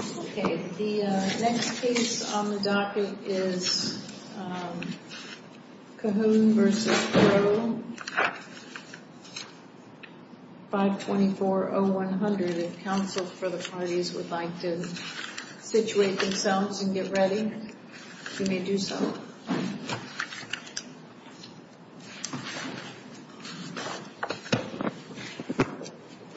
The next case on the docket is Cahoon v. Crowe, 524-0100. If counsel for the parties would like to situate themselves and get ready, you may do so. Cahoon v. Crowe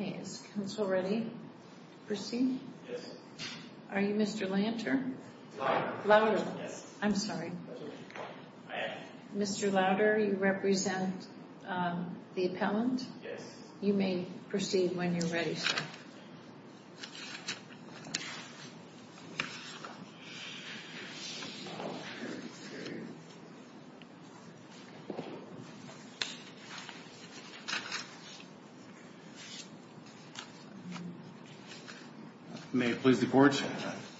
Okay, is counsel ready to proceed? Yes. Are you Mr. Lanter? Louder. Louder. Yes. I'm sorry. I am. Mr. Louder, you represent the appellant? Yes. You may proceed when you're ready, sir. May it please the Court,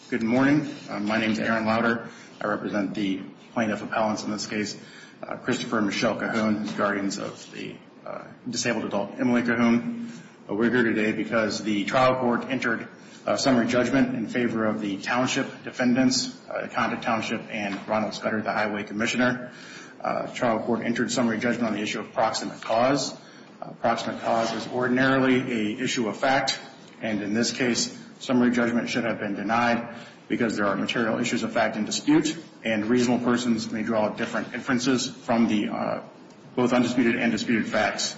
good morning. My name is Aaron Louder. I represent the plaintiff appellants in this case, Christopher Michelle Cahoon, guardians of the disabled adult Emily Cahoon. We're here today because the trial court entered a summary judgment in favor of the township defendants, Conta Township and Ronald Scudder, the highway commissioner. The trial court entered summary judgment on the issue of proximate cause. Proximate cause is ordinarily an issue of fact. And in this case, summary judgment should have been denied because there are material issues of fact in dispute, and reasonable persons may draw different inferences from the both undisputed and disputed facts.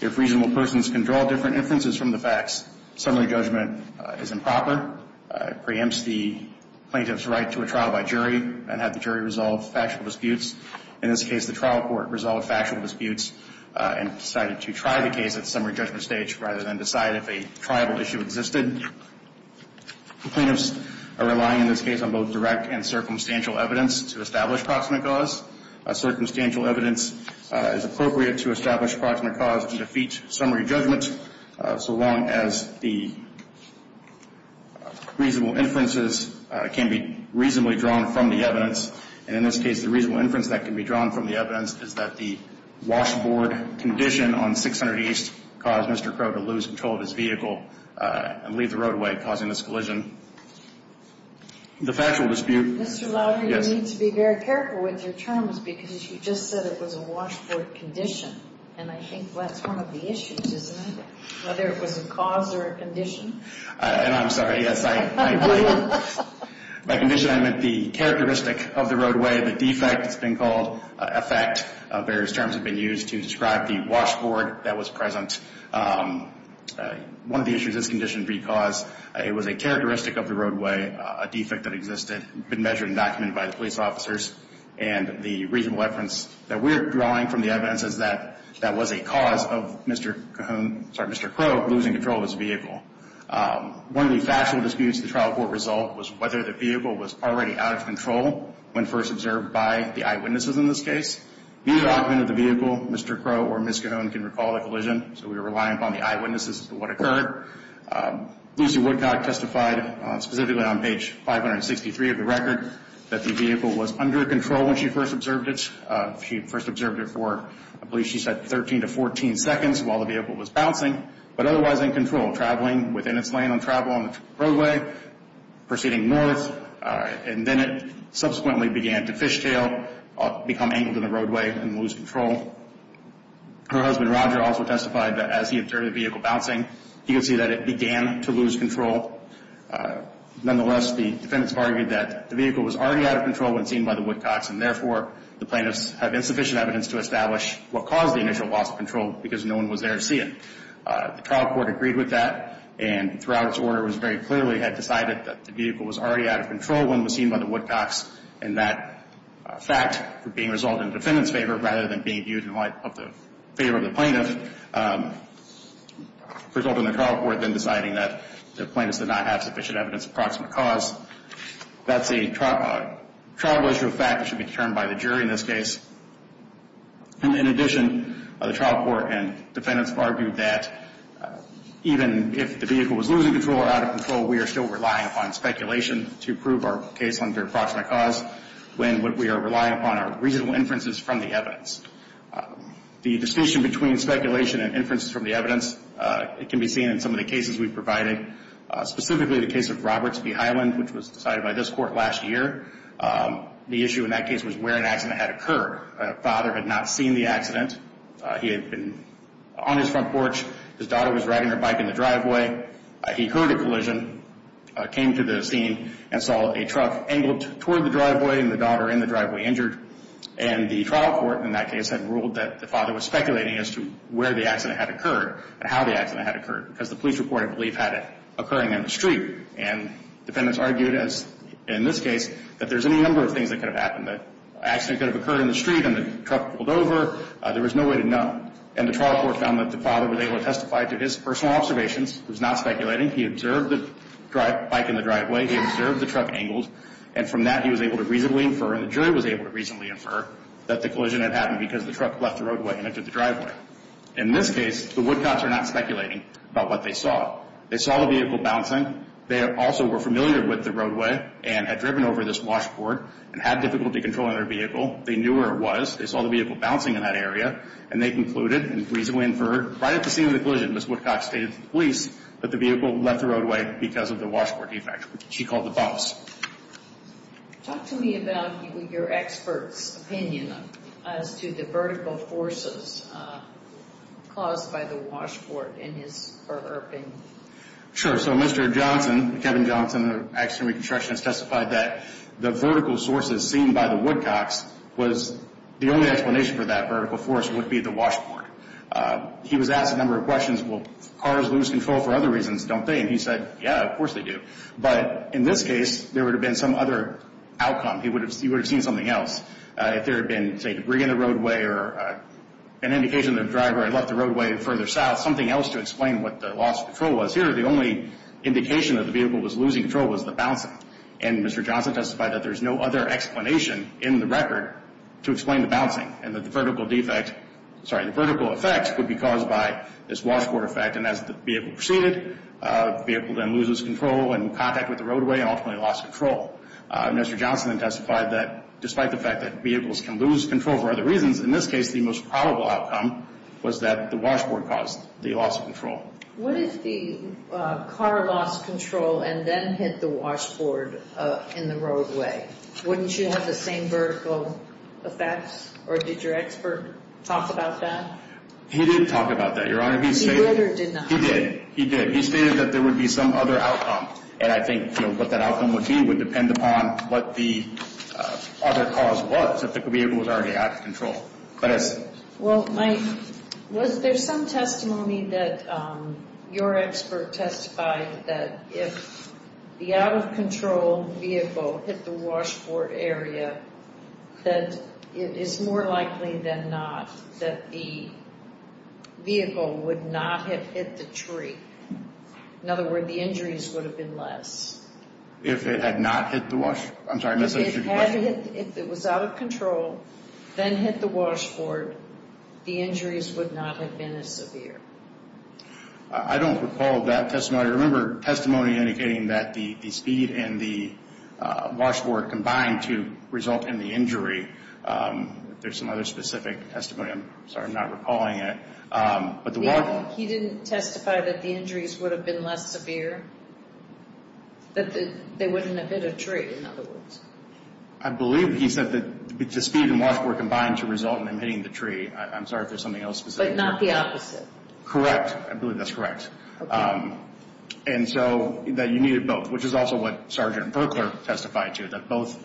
If reasonable persons can draw different inferences from the facts, summary judgment is improper. It preempts the plaintiff's right to a trial by jury and have the jury resolve factual disputes. In this case, the trial court resolved factual disputes and decided to try the case at summary judgment stage rather than decide if a triable issue existed. The plaintiffs are relying in this case on both direct and circumstantial evidence to establish proximate cause. Circumstantial evidence is appropriate to establish proximate cause to defeat summary judgment so long as the reasonable inferences can be reasonably drawn from the evidence. And in this case, the reasonable inference that can be drawn from the evidence is that the washboard condition on 600 East caused Mr. Crow to lose control of his vehicle and leave the roadway, causing this collision. The factual dispute- Mr. Louder, you need to be very careful with your terms because you just said it was a washboard condition. And I think that's one of the issues, isn't it? Whether it was a cause or a condition. And I'm sorry, yes. By condition, I meant the characteristic of the roadway, the defect. It's been called effect. Various terms have been used to describe the washboard that was present. One of the issues is condition because it was a characteristic of the roadway, a defect that existed, been measured and documented by the police officers. And the reasonable inference that we're drawing from the evidence is that that was a cause of Mr. Cahoon- sorry, Mr. Crow losing control of his vehicle. One of the factual disputes in the trial court result was whether the vehicle was already out of control when first observed by the eyewitnesses in this case. Neither argument of the vehicle, Mr. Crow or Ms. Cahoon, can recall the collision, so we're relying upon the eyewitnesses for what occurred. Lucy Woodcock testified specifically on page 563 of the record that the vehicle was under control when she first observed it. She first observed it for, I believe she said, 13 to 14 seconds while the vehicle was bouncing, but otherwise in control, traveling within its lane on travel on the roadway, proceeding north, and then it subsequently began to fishtail, become angled in the roadway and lose control. Her husband, Roger, also testified that as he observed the vehicle bouncing, he could see that it began to lose control. Nonetheless, the defendants argued that the vehicle was already out of control when seen by the Woodcocks and therefore the plaintiffs have insufficient evidence to establish what caused the initial loss of control because no one was there to see it. The trial court agreed with that and throughout its order was very clearly had decided that the vehicle was already out of control when it was seen by the Woodcocks and that fact being resolved in the defendant's favor rather than being viewed in light of the favor of the plaintiff, resulting in the trial court then deciding that the plaintiffs did not have sufficient evidence of proximate cause. That's a trial issue of fact that should be determined by the jury in this case. In addition, the trial court and defendants argued that even if the vehicle was losing control or out of control, we are still relying upon speculation to prove our case under proximate cause when we are relying upon our reasonable inferences from the evidence. The distinction between speculation and inferences from the evidence can be seen in some of the cases we've provided, specifically the case of Roberts v. Highland, which was decided by this court last year. The issue in that case was where an accident had occurred. A father had not seen the accident. He had been on his front porch. His daughter was riding her bike in the driveway. He heard a collision, came to the scene, and saw a truck angled toward the driveway and the daughter in the driveway injured. And the trial court in that case had ruled that the father was speculating as to where the accident had occurred and how the accident had occurred because the police report, I believe, had it occurring in the street. And defendants argued, as in this case, that there's any number of things that could have happened. The accident could have occurred in the street and the truck rolled over. There was no way to know. And the trial court found that the father was able to testify to his personal observations. He was not speculating. He observed the bike in the driveway. He observed the truck angled. And from that, he was able to reasonably infer, and the jury was able to reasonably infer, that the collision had happened because the truck left the roadway and entered the driveway. In this case, the Woodcots are not speculating about what they saw. They saw the vehicle bouncing. They also were familiar with the roadway and had driven over this washboard and had difficulty controlling their vehicle. They knew where it was. They saw the vehicle bouncing in that area. And they concluded and reasonably inferred right at the scene of the collision, Ms. Woodcock stated to the police that the vehicle left the roadway because of the washboard defect, which she called the bounce. Talk to me about your expert's opinion as to the vertical forces caused by the washboard and his or her opinion. Sure. So Mr. Johnson, Kevin Johnson of Accident and Reconstruction, has testified that the vertical sources seen by the Woodcocks was the only explanation for that vertical force would be the washboard. He was asked a number of questions. Will cars lose control for other reasons? Don't they? And he said, yeah, of course they do. But in this case, there would have been some other outcome. He would have seen something else. If there had been, say, debris in the roadway or an indication that a driver had left the roadway further south, something else to explain what the loss of control was. Here, the only indication that the vehicle was losing control was the bouncing. And Mr. Johnson testified that there's no other explanation in the record to explain the bouncing and that the vertical defect, sorry, the vertical effect would be caused by this washboard effect. And as the vehicle proceeded, the vehicle then loses control and contact with the roadway and ultimately lost control. Mr. Johnson testified that despite the fact that vehicles can lose control for other reasons, in this case the most probable outcome was that the washboard caused the loss of control. What if the car lost control and then hit the washboard in the roadway? Wouldn't you have the same vertical effects? Or did your expert talk about that? He did talk about that, Your Honor. He did or did not? He did. He did. He stated that there would be some other outcome, and I think what that outcome would be would depend upon what the other cause was, if the vehicle was already out of control. Well, Mike, was there some testimony that your expert testified that if the out-of-control vehicle hit the washboard area, that it is more likely than not that the vehicle would not have hit the tree? In other words, the injuries would have been less. If it had not hit the washboard? I'm sorry, I missed that. If it was out of control, then hit the washboard, the injuries would not have been as severe. I don't recall that testimony. Your Honor, I remember testimony indicating that the speed and the washboard combined to result in the injury. There's some other specific testimony. I'm sorry, I'm not recalling it. He didn't testify that the injuries would have been less severe? That they wouldn't have hit a tree, in other words? I believe he said that the speed and washboard combined to result in him hitting the tree. I'm sorry if there's something else specific. But not the opposite? Correct. I believe that's correct. And so that you needed both, which is also what Sgt. Berkler testified to, that both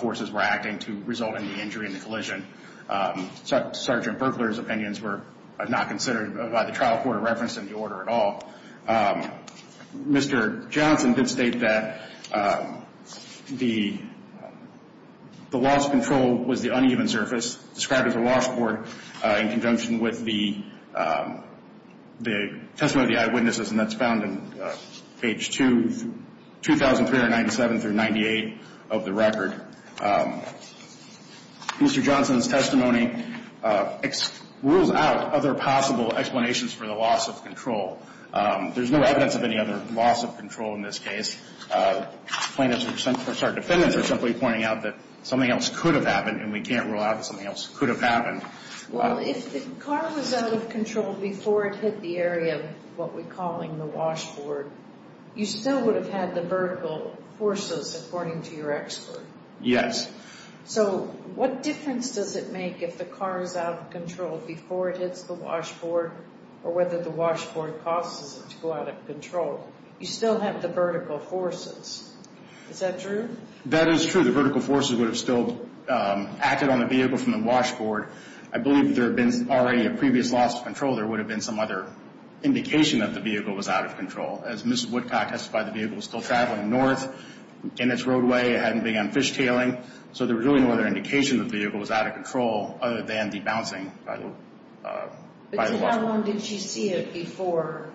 forces were acting to result in the injury and the collision. Sgt. Berkler's opinions were not considered by the trial court of reference in the order at all. Mr. Johnson did state that the loss of control was the uneven surface, described as a washboard in conjunction with the testimony of the eyewitnesses, and that's found in page 2, 2397 through 98 of the record. Mr. Johnson's testimony rules out other possible explanations for the loss of control. There's no evidence of any other loss of control in this case. Plaintiffs are simply pointing out that something else could have happened, and we can't rule out that something else could have happened. Well, if the car was out of control before it hit the area of what we're calling the washboard, you still would have had the vertical forces, according to your expert. Yes. So what difference does it make if the car is out of control before it hits the washboard or whether the washboard causes it to go out of control? You still have the vertical forces. Is that true? That is true. The vertical forces would have still acted on the vehicle from the washboard. I believe if there had been already a previous loss of control, there would have been some other indication that the vehicle was out of control. As Ms. Woodcock testified, the vehicle was still traveling north in its roadway. It hadn't begun fishtailing, so there was really no other indication the vehicle was out of control other than the bouncing by the washboard. But to how long did she see it before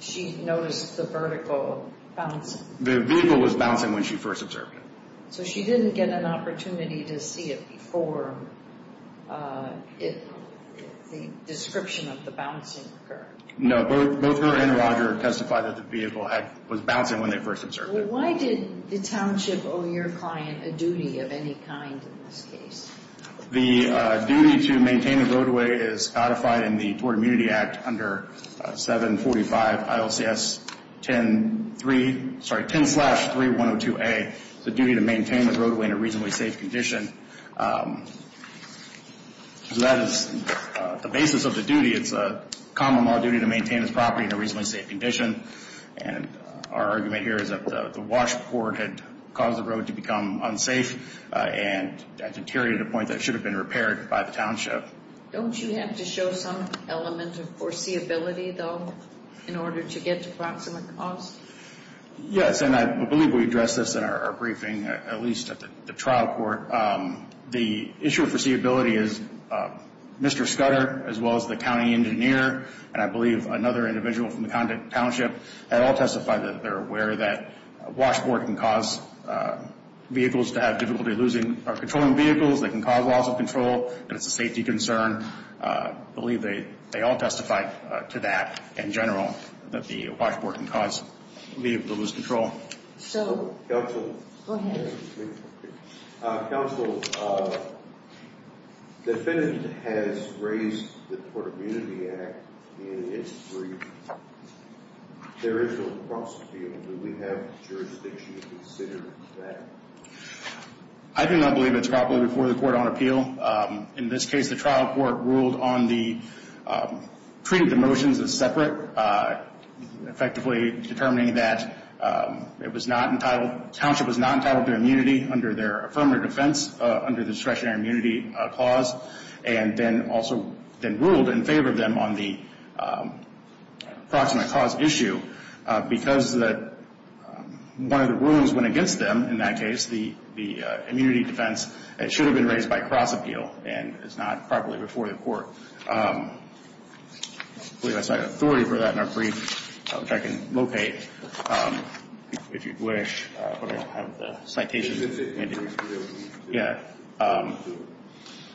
she noticed the vertical bouncing? The vehicle was bouncing when she first observed it. So she didn't get an opportunity to see it before the description of the bouncing occurred? No. Both her and Roger testified that the vehicle was bouncing when they first observed it. Why did the township owe your client a duty of any kind in this case? The duty to maintain the roadway is codified in the Tord Immunity Act under 745 ILCS 10-3, sorry, 10-3102A, the duty to maintain the roadway in a reasonably safe condition. So that is the basis of the duty. It's a common law duty to maintain this property in a reasonably safe condition, and our argument here is that the washboard had caused the road to become unsafe and deteriorated to the point that it should have been repaired by the township. Don't you have to show some element of foreseeability, though, in order to get to proximate cause? Yes, and I believe we addressed this in our briefing, at least at the trial court. The issue of foreseeability is Mr. Scudder, as well as the county engineer, and I believe another individual from the township, they all testified that they're aware that a washboard can cause vehicles to have difficulty losing or controlling vehicles, it can cause loss of control, and it's a safety concern. I believe they all testified to that in general, that the washboard can cause vehicles to lose control. Counsel, the defendant has raised the Port Immunity Act in its brief. There is no cross appeal. Do we have jurisdiction to consider that? I do not believe it's properly before the court on appeal. In this case, the trial court ruled on the treaty of the motions as separate, effectively determining that it was not entitled, the township was not entitled to immunity under their affirmative defense, under the discretionary immunity clause, and then also then ruled in favor of them on the proximate cause issue because one of the rulings went against them in that case, the immunity defense. It should have been raised by cross appeal, and it's not properly before the court. I believe I cited authority for that in our brief, which I can locate, if you'd wish, but I don't have the citation handy.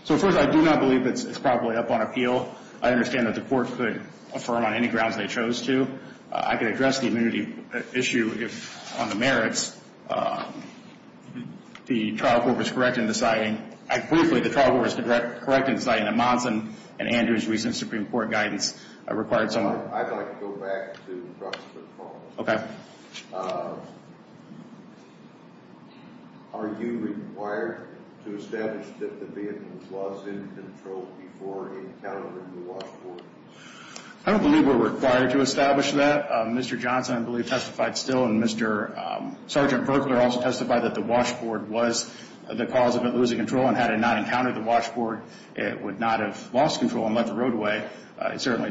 So first, I do not believe it's properly up on appeal. I understand that the court could affirm on any grounds they chose to. I can address the immunity issue on the merits. The trial court was correct in deciding, I briefly, the trial court was correct in deciding that Monson and Andrews' recent Supreme Court guidance required someone. I'd like to go back to proximate cause. Okay. Are you required to establish that the vehicle was in control before encountering the washboard? I don't believe we're required to establish that. Mr. Johnson, I believe, testified still, and Mr. Sergeant Burkler also testified that the washboard was the cause of it losing control, and had it not encountered the washboard, it would not have lost control and left the roadway. It certainly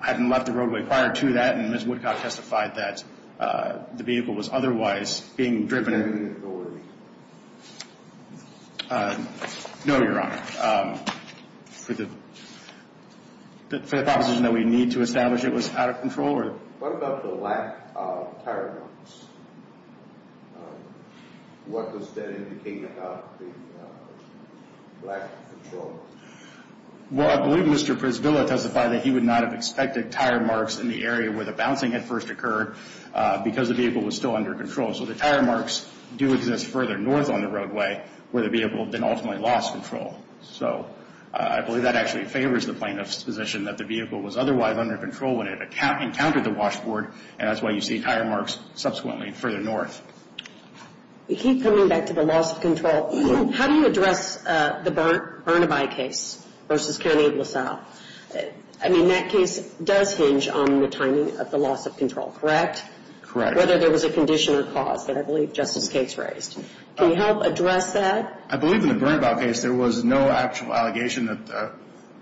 hadn't left the roadway prior to that, and Ms. Woodcock testified that the vehicle was otherwise being driven. Is there any authority? No, Your Honor. For the proposition that we need to establish it was out of control? What about the lack of tire marks? What does that indicate about the lack of control? Well, I believe Mr. Prisvilla testified that he would not have expected tire marks in the area where the bouncing had first occurred because the vehicle was still under control. So the tire marks do exist further north on the roadway where the vehicle then ultimately lost control. So I believe that actually favors the plaintiff's position that the vehicle was otherwise under control when it encountered the washboard, and that's why you see tire marks subsequently further north. We keep coming back to the loss of control. How do you address the Burnaby case versus Cairn Able South? I mean, that case does hinge on the timing of the loss of control, correct? Correct. Whether there was a condition or cause that I believe Justice Gates raised. Can you help address that? I believe in the Burnaby case there was no actual allegation that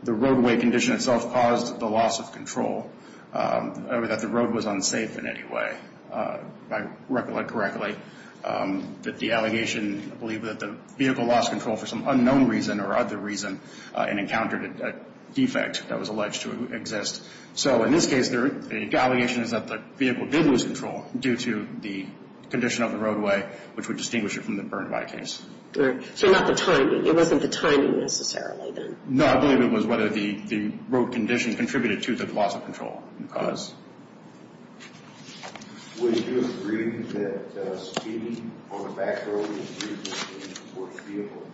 the roadway condition itself caused the loss of control or that the road was unsafe in any way. I recollect correctly that the allegation, I believe that the vehicle lost control for some unknown reason or other reason and encountered a defect that was alleged to exist. So in this case, the allegation is that the vehicle did lose control due to the condition of the roadway, which would distinguish it from the Burnaby case. So not the timing. It wasn't the timing necessarily then. No, I believe it was whether the road condition contributed to the loss of control and cause. Would you agree that speeding on a back road is a vehicle?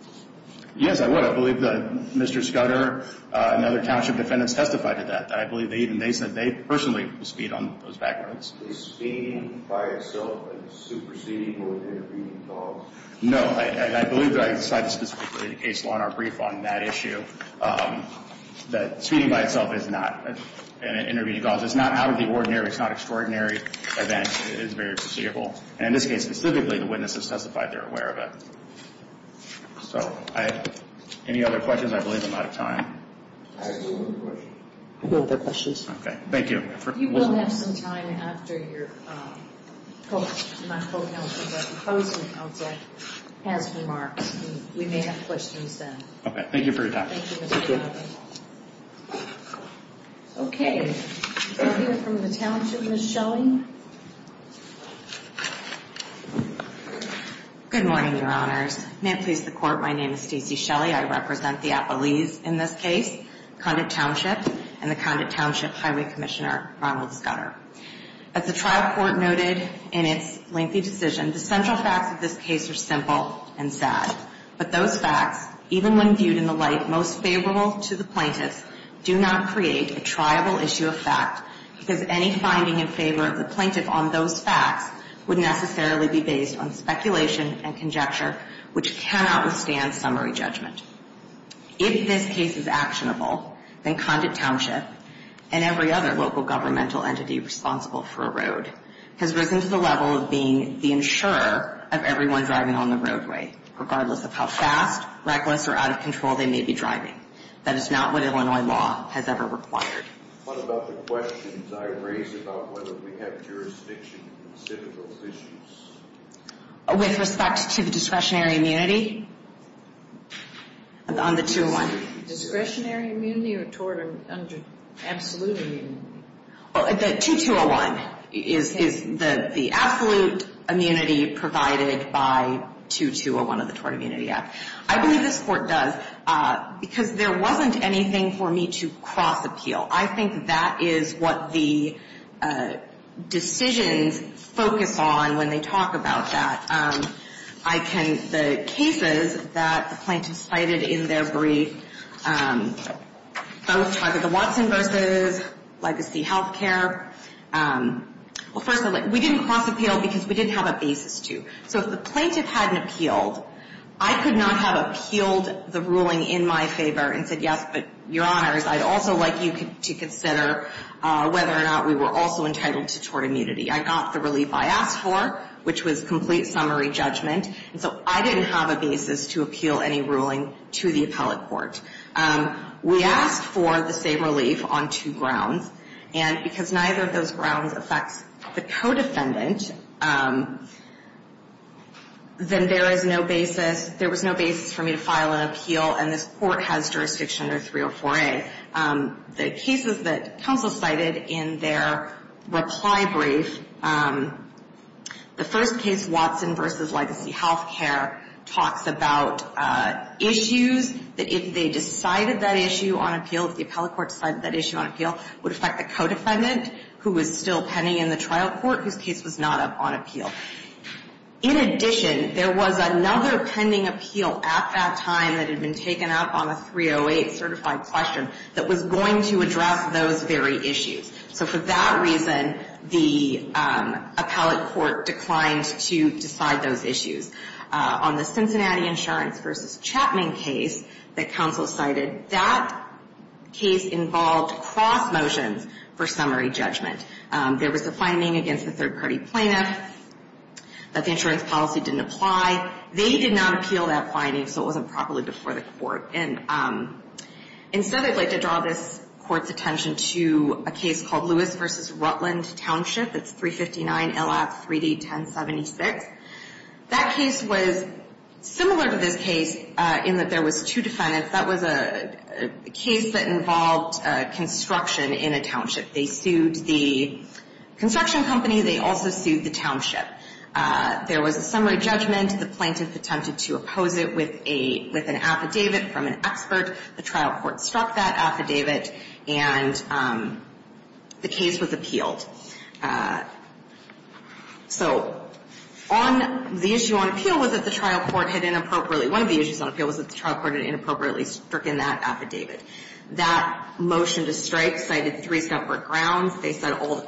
Yes, I would. I believe that Mr. Scudder and other township defendants testified to that. I believe they said they personally speed on those back roads. Is speeding by itself a superseding or intervening cause? No. I believe that I cited specifically the case law in our brief on that issue, that speeding by itself is not an intervening cause. It's not out of the ordinary. It's not extraordinary event. It is very foreseeable. And in this case specifically, the witnesses testified they're aware of it. So any other questions? I believe I'm out of time. I have one more question. Okay. Thank you. If you will have some time after your co-counsel has remarks, we may have questions then. Okay. Thank you for your time. Thank you, Mr. Scudder. Okay. We'll hear from the township, Ms. Shelley. Good morning, Your Honors. May it please the Court, my name is Stacy Shelley. I represent the Appalese in this case, Condit Township, and the Condit Township Highway Commissioner, Ronald Scudder. As the trial court noted in its lengthy decision, the central facts of this case are simple and sad. But those facts, even when viewed in the light most favorable to the plaintiffs, do not create a triable issue of fact because any finding in favor of the plaintiff on those facts would necessarily be based on speculation and conjecture, which cannot withstand summary judgment. If this case is actionable, then Condit Township and every other local governmental entity responsible for a road has risen to the level of being the insurer of everyone driving on the roadway, regardless of how fast, reckless, or out of control they may be driving. That is not what Illinois law has ever required. What about the questions I raised about whether we have jurisdiction in the civicals issues? With respect to the discretionary immunity on the 2-01? Discretionary immunity or tort under absolute immunity? The 2-2-0-1 is the absolute immunity provided by 2-2-0-1 of the Tort Immunity Act. I believe this court does because there wasn't anything for me to cross-appeal. I think that is what the decisions focus on when they talk about that. The cases that the plaintiffs cited in their brief, both Charlotte Watson v. Legacy Healthcare, we didn't cross-appeal because we didn't have a basis to. So if the plaintiff hadn't appealed, I could not have appealed the ruling in my favor and said, yes, but, your honors, I'd also like you to consider whether or not we were also entitled to tort immunity. I got the relief I asked for, which was complete summary judgment. And so I didn't have a basis to appeal any ruling to the appellate court. We asked for the same relief on two grounds. And because neither of those grounds affects the co-defendant, then there is no basis, there was no basis for me to file an appeal. And this court has jurisdiction under 304A. The cases that counsel cited in their reply brief, the first case, Watson v. Legacy Healthcare, talks about issues that if they decided that issue on appeal, if the appellate court decided that issue on appeal, would affect the co-defendant who was still pending in the trial court whose case was not up on appeal. In addition, there was another pending appeal at that time that had been taken up on a 308 certified question that was going to address those very issues. So for that reason, the appellate court declined to decide those issues. On the Cincinnati Insurance v. Chapman case that counsel cited, that case involved cross motions for summary judgment. There was a finding against the third-party plaintiff that the insurance policy didn't apply. They did not appeal that finding, so it wasn't properly before the court. And instead, I'd like to draw this court's attention to a case called Lewis v. Rutland Township. It's 359LF3D1076. That case was similar to this case in that there was two defendants. That was a case that involved construction in a township. They sued the construction company. They also sued the township. There was a summary judgment. The plaintiff attempted to oppose it with an affidavit from an expert. The trial court struck that affidavit, and the case was appealed. So on the issue on appeal was that the trial court had inappropriately One of the issues on appeal was that the trial court had inappropriately stricken that affidavit. That motion to strike cited three separate grounds. They said all of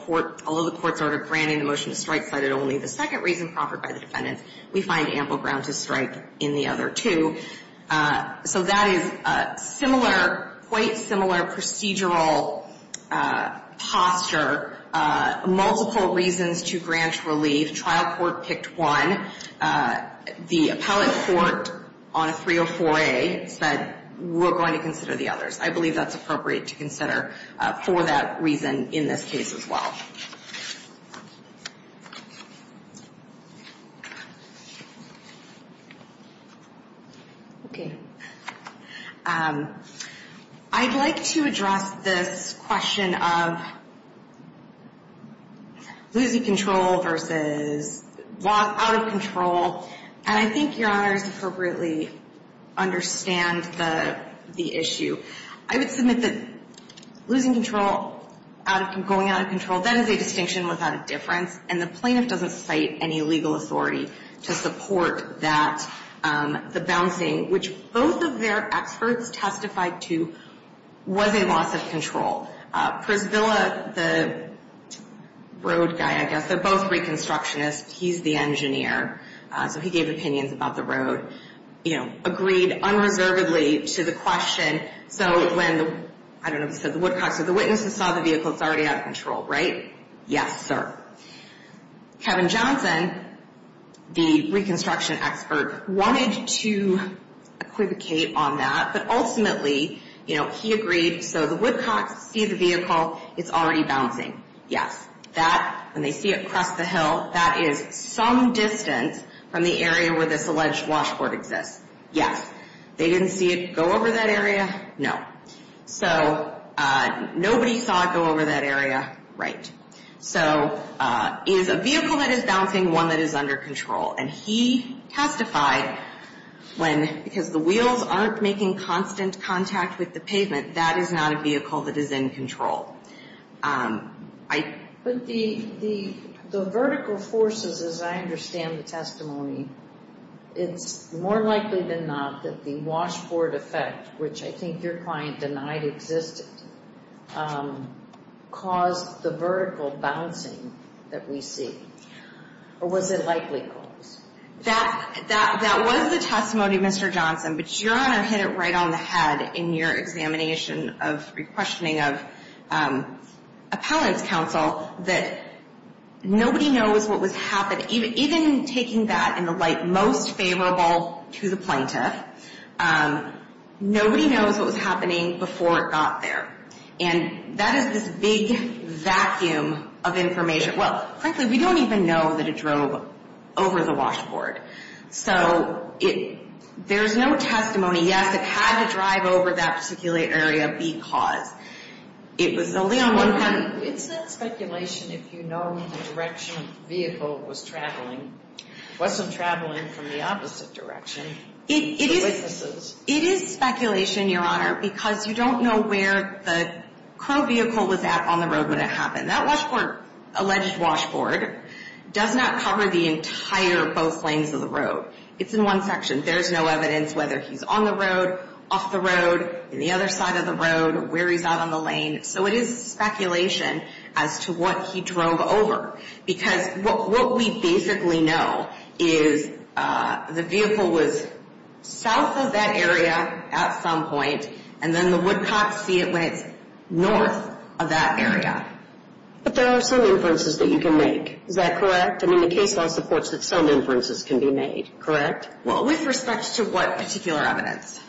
the court's order granting the motion to strike cited only the second reason proffered by the defendants. We find ample ground to strike in the other two. So that is similar, quite similar procedural posture. Multiple reasons to grant relief. Trial court picked one. The appellate court on 304A said we're going to consider the others. I believe that's appropriate to consider for that reason in this case as well. Okay. I'd like to address this question of losing control versus out of control. And I think Your Honors appropriately understand the issue. I would submit that losing control, going out of control, that is a distinction without a difference. And the plaintiff doesn't cite any legal authority to support that, the bouncing, which both of their experts testified to was a loss of control. Prisvilla, the road guy, I guess, they're both reconstructionists. He's the engineer. So he gave opinions about the road. Agreed unreservedly to the question. So when, I don't know, the Woodcocks or the witnesses saw the vehicle, it's already out of control, right? Yes, sir. Kevin Johnson, the reconstruction expert, wanted to equivocate on that. But ultimately, you know, he agreed so the Woodcocks see the vehicle, it's already bouncing. Yes. That, when they see it cross the hill, that is some distance from the area where this alleged washboard exists. Yes. They didn't see it go over that area? No. So nobody saw it go over that area? Right. So is a vehicle that is bouncing one that is under control? And he testified when, because the wheels aren't making constant contact with the pavement, that is not a vehicle that is in control. But the vertical forces, as I understand the testimony, it's more likely than not that the washboard effect, which I think your client denied existed, caused the vertical bouncing that we see. Or was it likely caused? That was the testimony, Mr. Johnson. But your Honor hit it right on the head in your examination of, re-questioning of appellant's counsel, that nobody knows what was happening. Even taking that in the light most favorable to the plaintiff, nobody knows what was happening before it got there. And that is this big vacuum of information. Well, frankly, we don't even know that it drove over the washboard. So there's no testimony. Yes, it had to drive over that particular area because it was only on one front. It's not speculation if you know the direction the vehicle was traveling. It wasn't traveling from the opposite direction to the witnesses. It is speculation, your Honor, because you don't know where the current vehicle was at on the road when it happened. And that washboard, alleged washboard, does not cover the entire both lanes of the road. It's in one section. There's no evidence whether he's on the road, off the road, on the other side of the road, where he's out on the lane. So it is speculation as to what he drove over. Because what we basically know is the vehicle was south of that area at some point, and then the Woodcocks see it when it's north of that area. But there are some inferences that you can make. Is that correct? I mean, the case law supports that some inferences can be made, correct? Well, with respect to what particular evidence?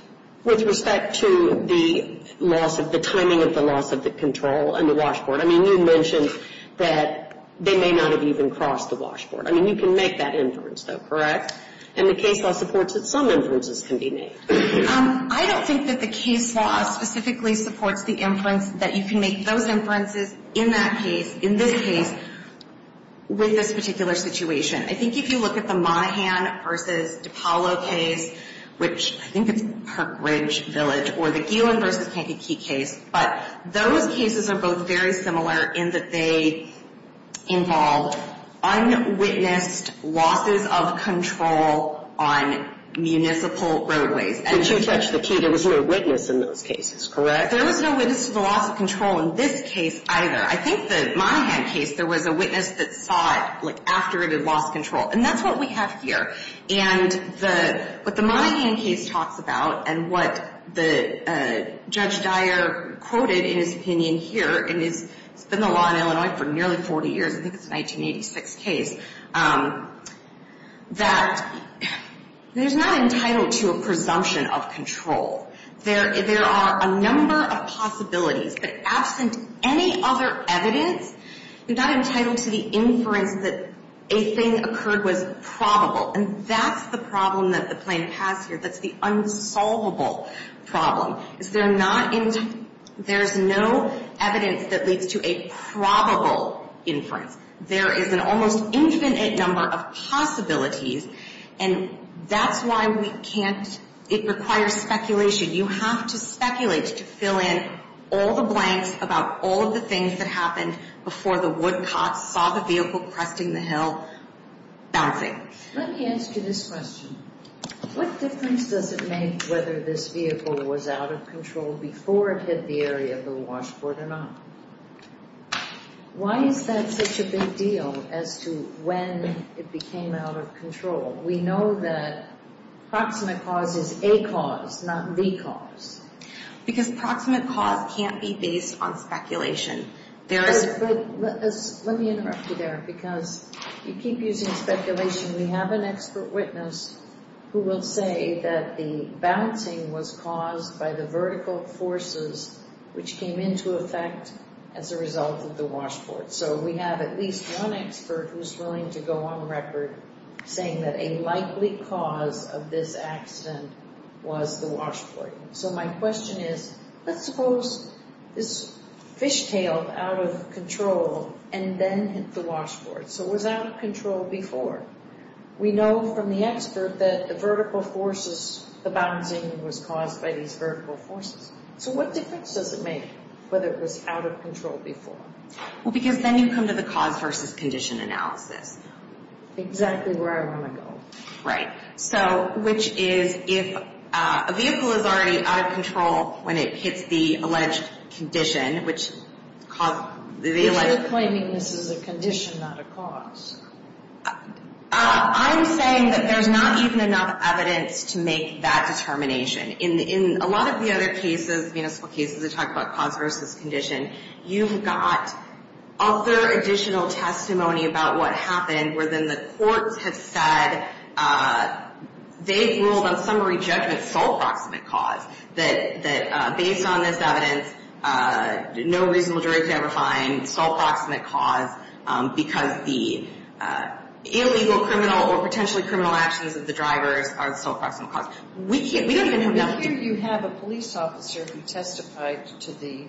With respect to the loss of the timing of the loss of the control and the washboard. I mean, you mentioned that they may not have even crossed the washboard. I mean, you can make that inference, though, correct? And the case law supports that some inferences can be made. I don't think that the case law specifically supports the inference that you can make those inferences in that case, in this case, with this particular situation. I think if you look at the Monaghan v. DiPaolo case, which I think it's Perk Ridge Village, or the Geelan v. Kankakee case. But those cases are both very similar in that they involve unwitnessed losses of control on municipal roadways. But you touched the key. There was no witness in those cases, correct? There was no witness to the loss of control in this case, either. I think the Monaghan case, there was a witness that saw it, like, after it had lost control. And that's what we have here. And what the Monaghan case talks about and what Judge Dyer quoted in his opinion here, and it's been the law in Illinois for nearly 40 years, I think it's a 1986 case, that there's not entitlement to a presumption of control. There are a number of possibilities. But absent any other evidence, you're not entitled to the inference that a thing occurred was probable. And that's the problem that the plaintiff has here. That's the unsolvable problem. Is there not – there's no evidence that leads to a probable inference. There is an almost infinite number of possibilities. And that's why we can't – it requires speculation. You have to speculate to fill in all the blanks about all of the things that happened before the woodcots saw the vehicle cresting the hill bouncing. Let me answer this question. What difference does it make whether this vehicle was out of control before it hit the area of the washboard or not? Why is that such a big deal as to when it became out of control? We know that proximate cause is a cause, not the cause. Because proximate cause can't be based on speculation. Let me interrupt you there because you keep using speculation. We have an expert witness who will say that the bouncing was caused by the vertical forces which came into effect as a result of the washboard. So we have at least one expert who's willing to go on record saying that a likely cause of this accident was the washboard. So my question is, let's suppose this fishtail out of control and then hit the washboard. So it was out of control before. We know from the expert that the vertical forces – the bouncing was caused by these vertical forces. So what difference does it make whether it was out of control before? Well, because then you come to the cause versus condition analysis. Exactly where I want to go. Right. So which is if a vehicle is already out of control when it hits the alleged condition, which – You're claiming this is a condition, not a cause. I'm saying that there's not even enough evidence to make that determination. In a lot of the other cases, municipal cases, that talk about cause versus condition, you've got other additional testimony about what happened where then the courts have said they've ruled on summary judgment, sole proximate cause, that based on this evidence, no reasonable jury could ever find sole proximate cause because the illegal criminal or potentially criminal actions of the drivers are the sole proximate cause. Here you have a police officer who testified to the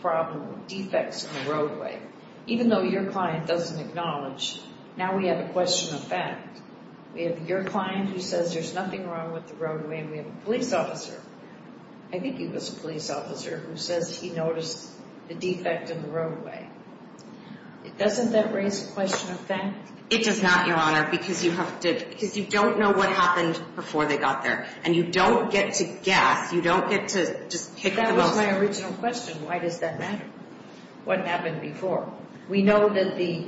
problem of defects in the roadway. Even though your client doesn't acknowledge, now we have a question of fact. We have your client who says there's nothing wrong with the roadway, and we have a police officer – I think he was a police officer – who says he noticed a defect in the roadway. Doesn't that raise a question of fact? It does not, Your Honor, because you don't know what happened before they got there. And you don't get to guess. You don't get to just pick the most – That was my original question. Why does that matter? What happened before? We know that the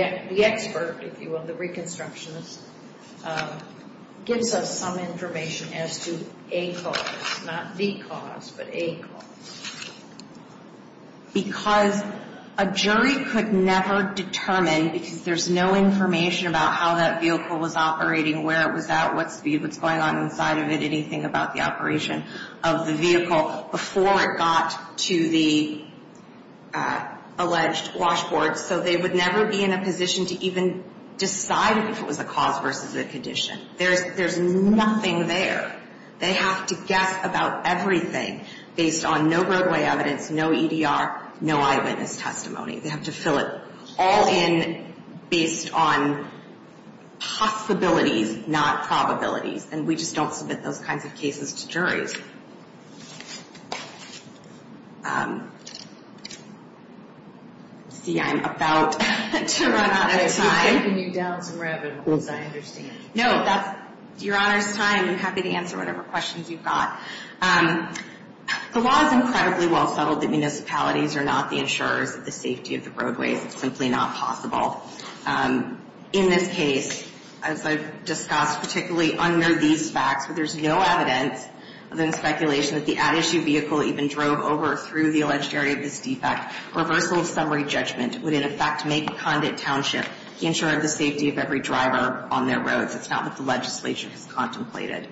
expert, if you will, the reconstructionist, gives us some information as to a cause. Not the cause, but a cause. Because a jury could never determine – because there's no information about how that vehicle was operating, where it was at, what speed was going on inside of it, anything about the operation of the vehicle before it got to the alleged washboard. So they would never be in a position to even decide if it was a cause versus a condition. There's nothing there. They have to guess about everything based on no roadway evidence, no EDR, no eyewitness testimony. They have to fill it all in based on possibilities, not probabilities. And we just don't submit those kinds of cases to juries. See, I'm about to run out of time. I'm giving you doubts in revenue, as I understand. No, that's – Your Honor's time. I'm happy to answer whatever questions you've got. The law is incredibly well settled that municipalities are not the insurers of the safety of the roadways. It's simply not possible. In this case, as I've discussed, particularly under these facts, where there's no evidence other than speculation that the at-issue vehicle even drove over or through the alleged area of this defect, reversal of summary judgment would, in effect, make Condit Township the insurer of the safety of every driver on their roads. It's not what the legislature has contemplated.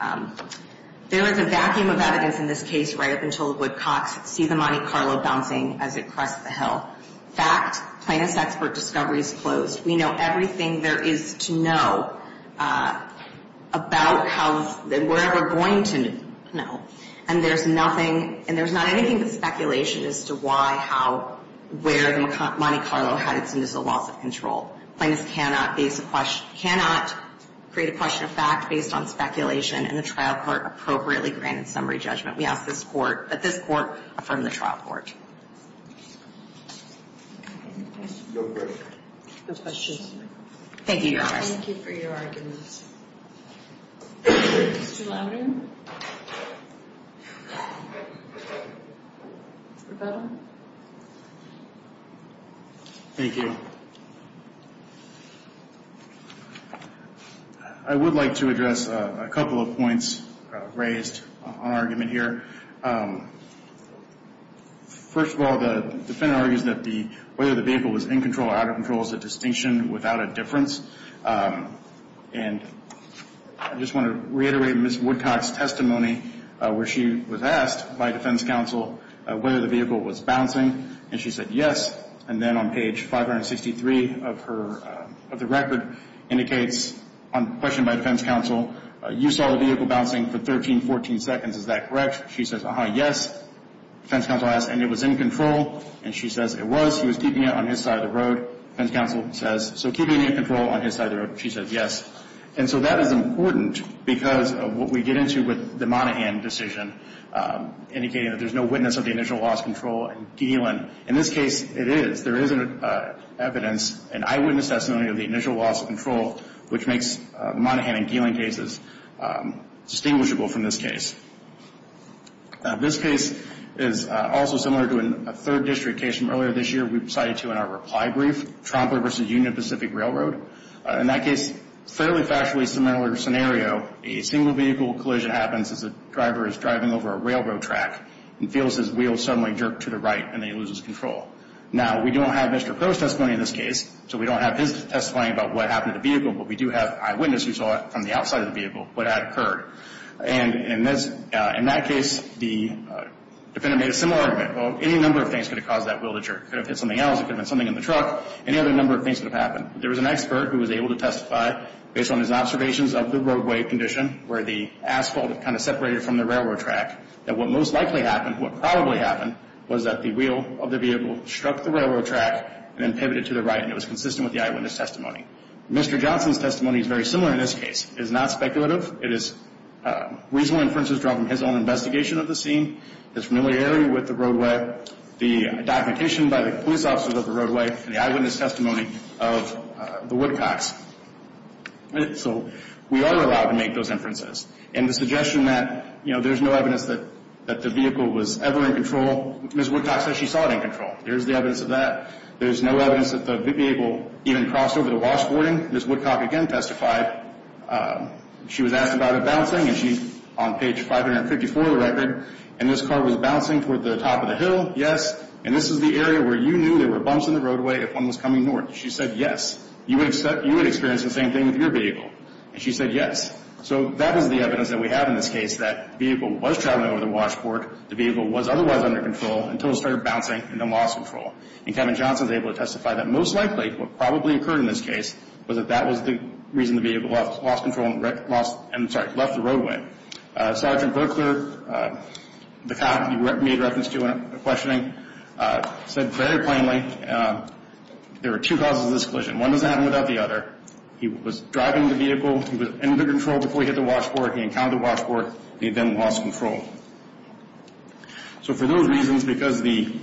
There is a vacuum of evidence in this case right up until Woodcocks. See the Monte Carlo bouncing as it crossed the hill. Fact, plaintiff's expert discovery is closed. We know everything there is to know about where we're going to know. And there's nothing – and there's not anything but speculation as to why, how, where Monte Carlo had its initial loss of control. Plaintiffs cannot base a question – cannot create a question of fact based on speculation and a trial court appropriately granted summary judgment. We ask this Court – that this Court affirm the trial court. No further questions. Thank you, Your Honor. Thank you for your arguments. Mr. Lambert. Mr. Petal. Thank you. I would like to address a couple of points raised on argument here. First of all, the defendant argues that the – whether the vehicle was in control or out of control is a distinction without a difference. And I just want to reiterate Ms. Woodcock's testimony where she was asked by defense counsel whether the vehicle was bouncing. And she said yes. And then on page 563 of her – of the record indicates on question by defense counsel, you saw the vehicle bouncing for 13, 14 seconds. Is that correct? She says, uh-huh, yes. Defense counsel asks, and it was in control? And she says it was. He was keeping it on his side of the road. Defense counsel says, so keeping it in control on his side of the road? She says yes. And so that is important because of what we get into with the Monaghan decision, indicating that there's no witness of the initial loss of control in Geelan. In this case, it is. There is evidence, an eyewitness testimony of the initial loss of control, which makes the Monaghan and Geelan cases distinguishable from this case. This case is also similar to a third district case from earlier this year we cited to in our reply brief, Tromper v. Union Pacific Railroad. In that case, fairly factually similar scenario. A single vehicle collision happens as the driver is driving over a railroad track and feels his wheels suddenly jerk to the right and he loses control. Now, we don't have Mr. Crow's testimony in this case, so we don't have his testimony about what happened to the vehicle, but we do have eyewitnesses who saw it from the outside of the vehicle what had occurred. And in that case, the defendant made a similar argument. Well, any number of things could have caused that wheel to jerk. It could have hit something else. It could have been something in the truck. Any other number of things could have happened. There was an expert who was able to testify based on his observations of the roadway condition where the asphalt had kind of separated from the railroad track, that what most likely happened, what probably happened, was that the wheel of the vehicle struck the railroad track and then pivoted to the right, and it was consistent with the eyewitness testimony. Mr. Johnson's testimony is very similar in this case. It is not speculative. It is reasonable inferences drawn from his own investigation of the scene, his familiarity with the roadway, the documentation by the police officers of the roadway, and the eyewitness testimony of the Woodcocks. So we are allowed to make those inferences. And the suggestion that, you know, there's no evidence that the vehicle was ever in control, Ms. Woodcocks said she saw it in control. There's the evidence of that. There's no evidence that the vehicle even crossed over the washboarding. Ms. Woodcock again testified she was asked about it bouncing, and she's on page 554 of the record, and this car was bouncing toward the top of the hill, yes, and this is the area where you knew there were bumps in the roadway if one was coming north. She said yes. You would experience the same thing with your vehicle. And she said yes. So that is the evidence that we have in this case, that the vehicle was traveling over the washboard, the vehicle was otherwise under control until it started bouncing and then lost control. And Kevin Johnson was able to testify that most likely what probably occurred in this case was that that was the reason the vehicle lost control and left the roadway. Sergeant Burkler, the cop you made reference to in questioning, said very plainly there were two causes of this collision. One doesn't happen without the other. He was driving the vehicle. He was under control before he hit the washboard. He encountered the washboard. He then lost control. So for those reasons, because the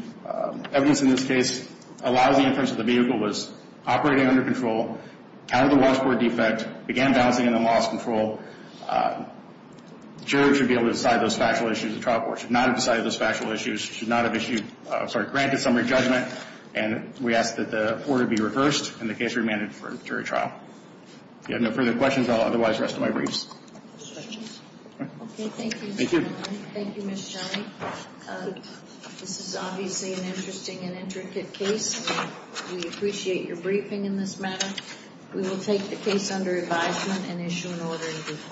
evidence in this case allows the inference that the vehicle was operating under control, encountered the washboard defect, began bouncing and then lost control, the jury should be able to decide those factual issues. The trial court should not have decided those factual issues, should not have granted summary judgment, and we ask that the order be reversed and the case be remanded for jury trial. If you have no further questions, I'll otherwise rest my briefs. Okay, thank you. Thank you. Thank you, Ms. Johnny. This is obviously an interesting and intricate case. We appreciate your briefing in this matter. We will take the case under advisement and issue an order in due course.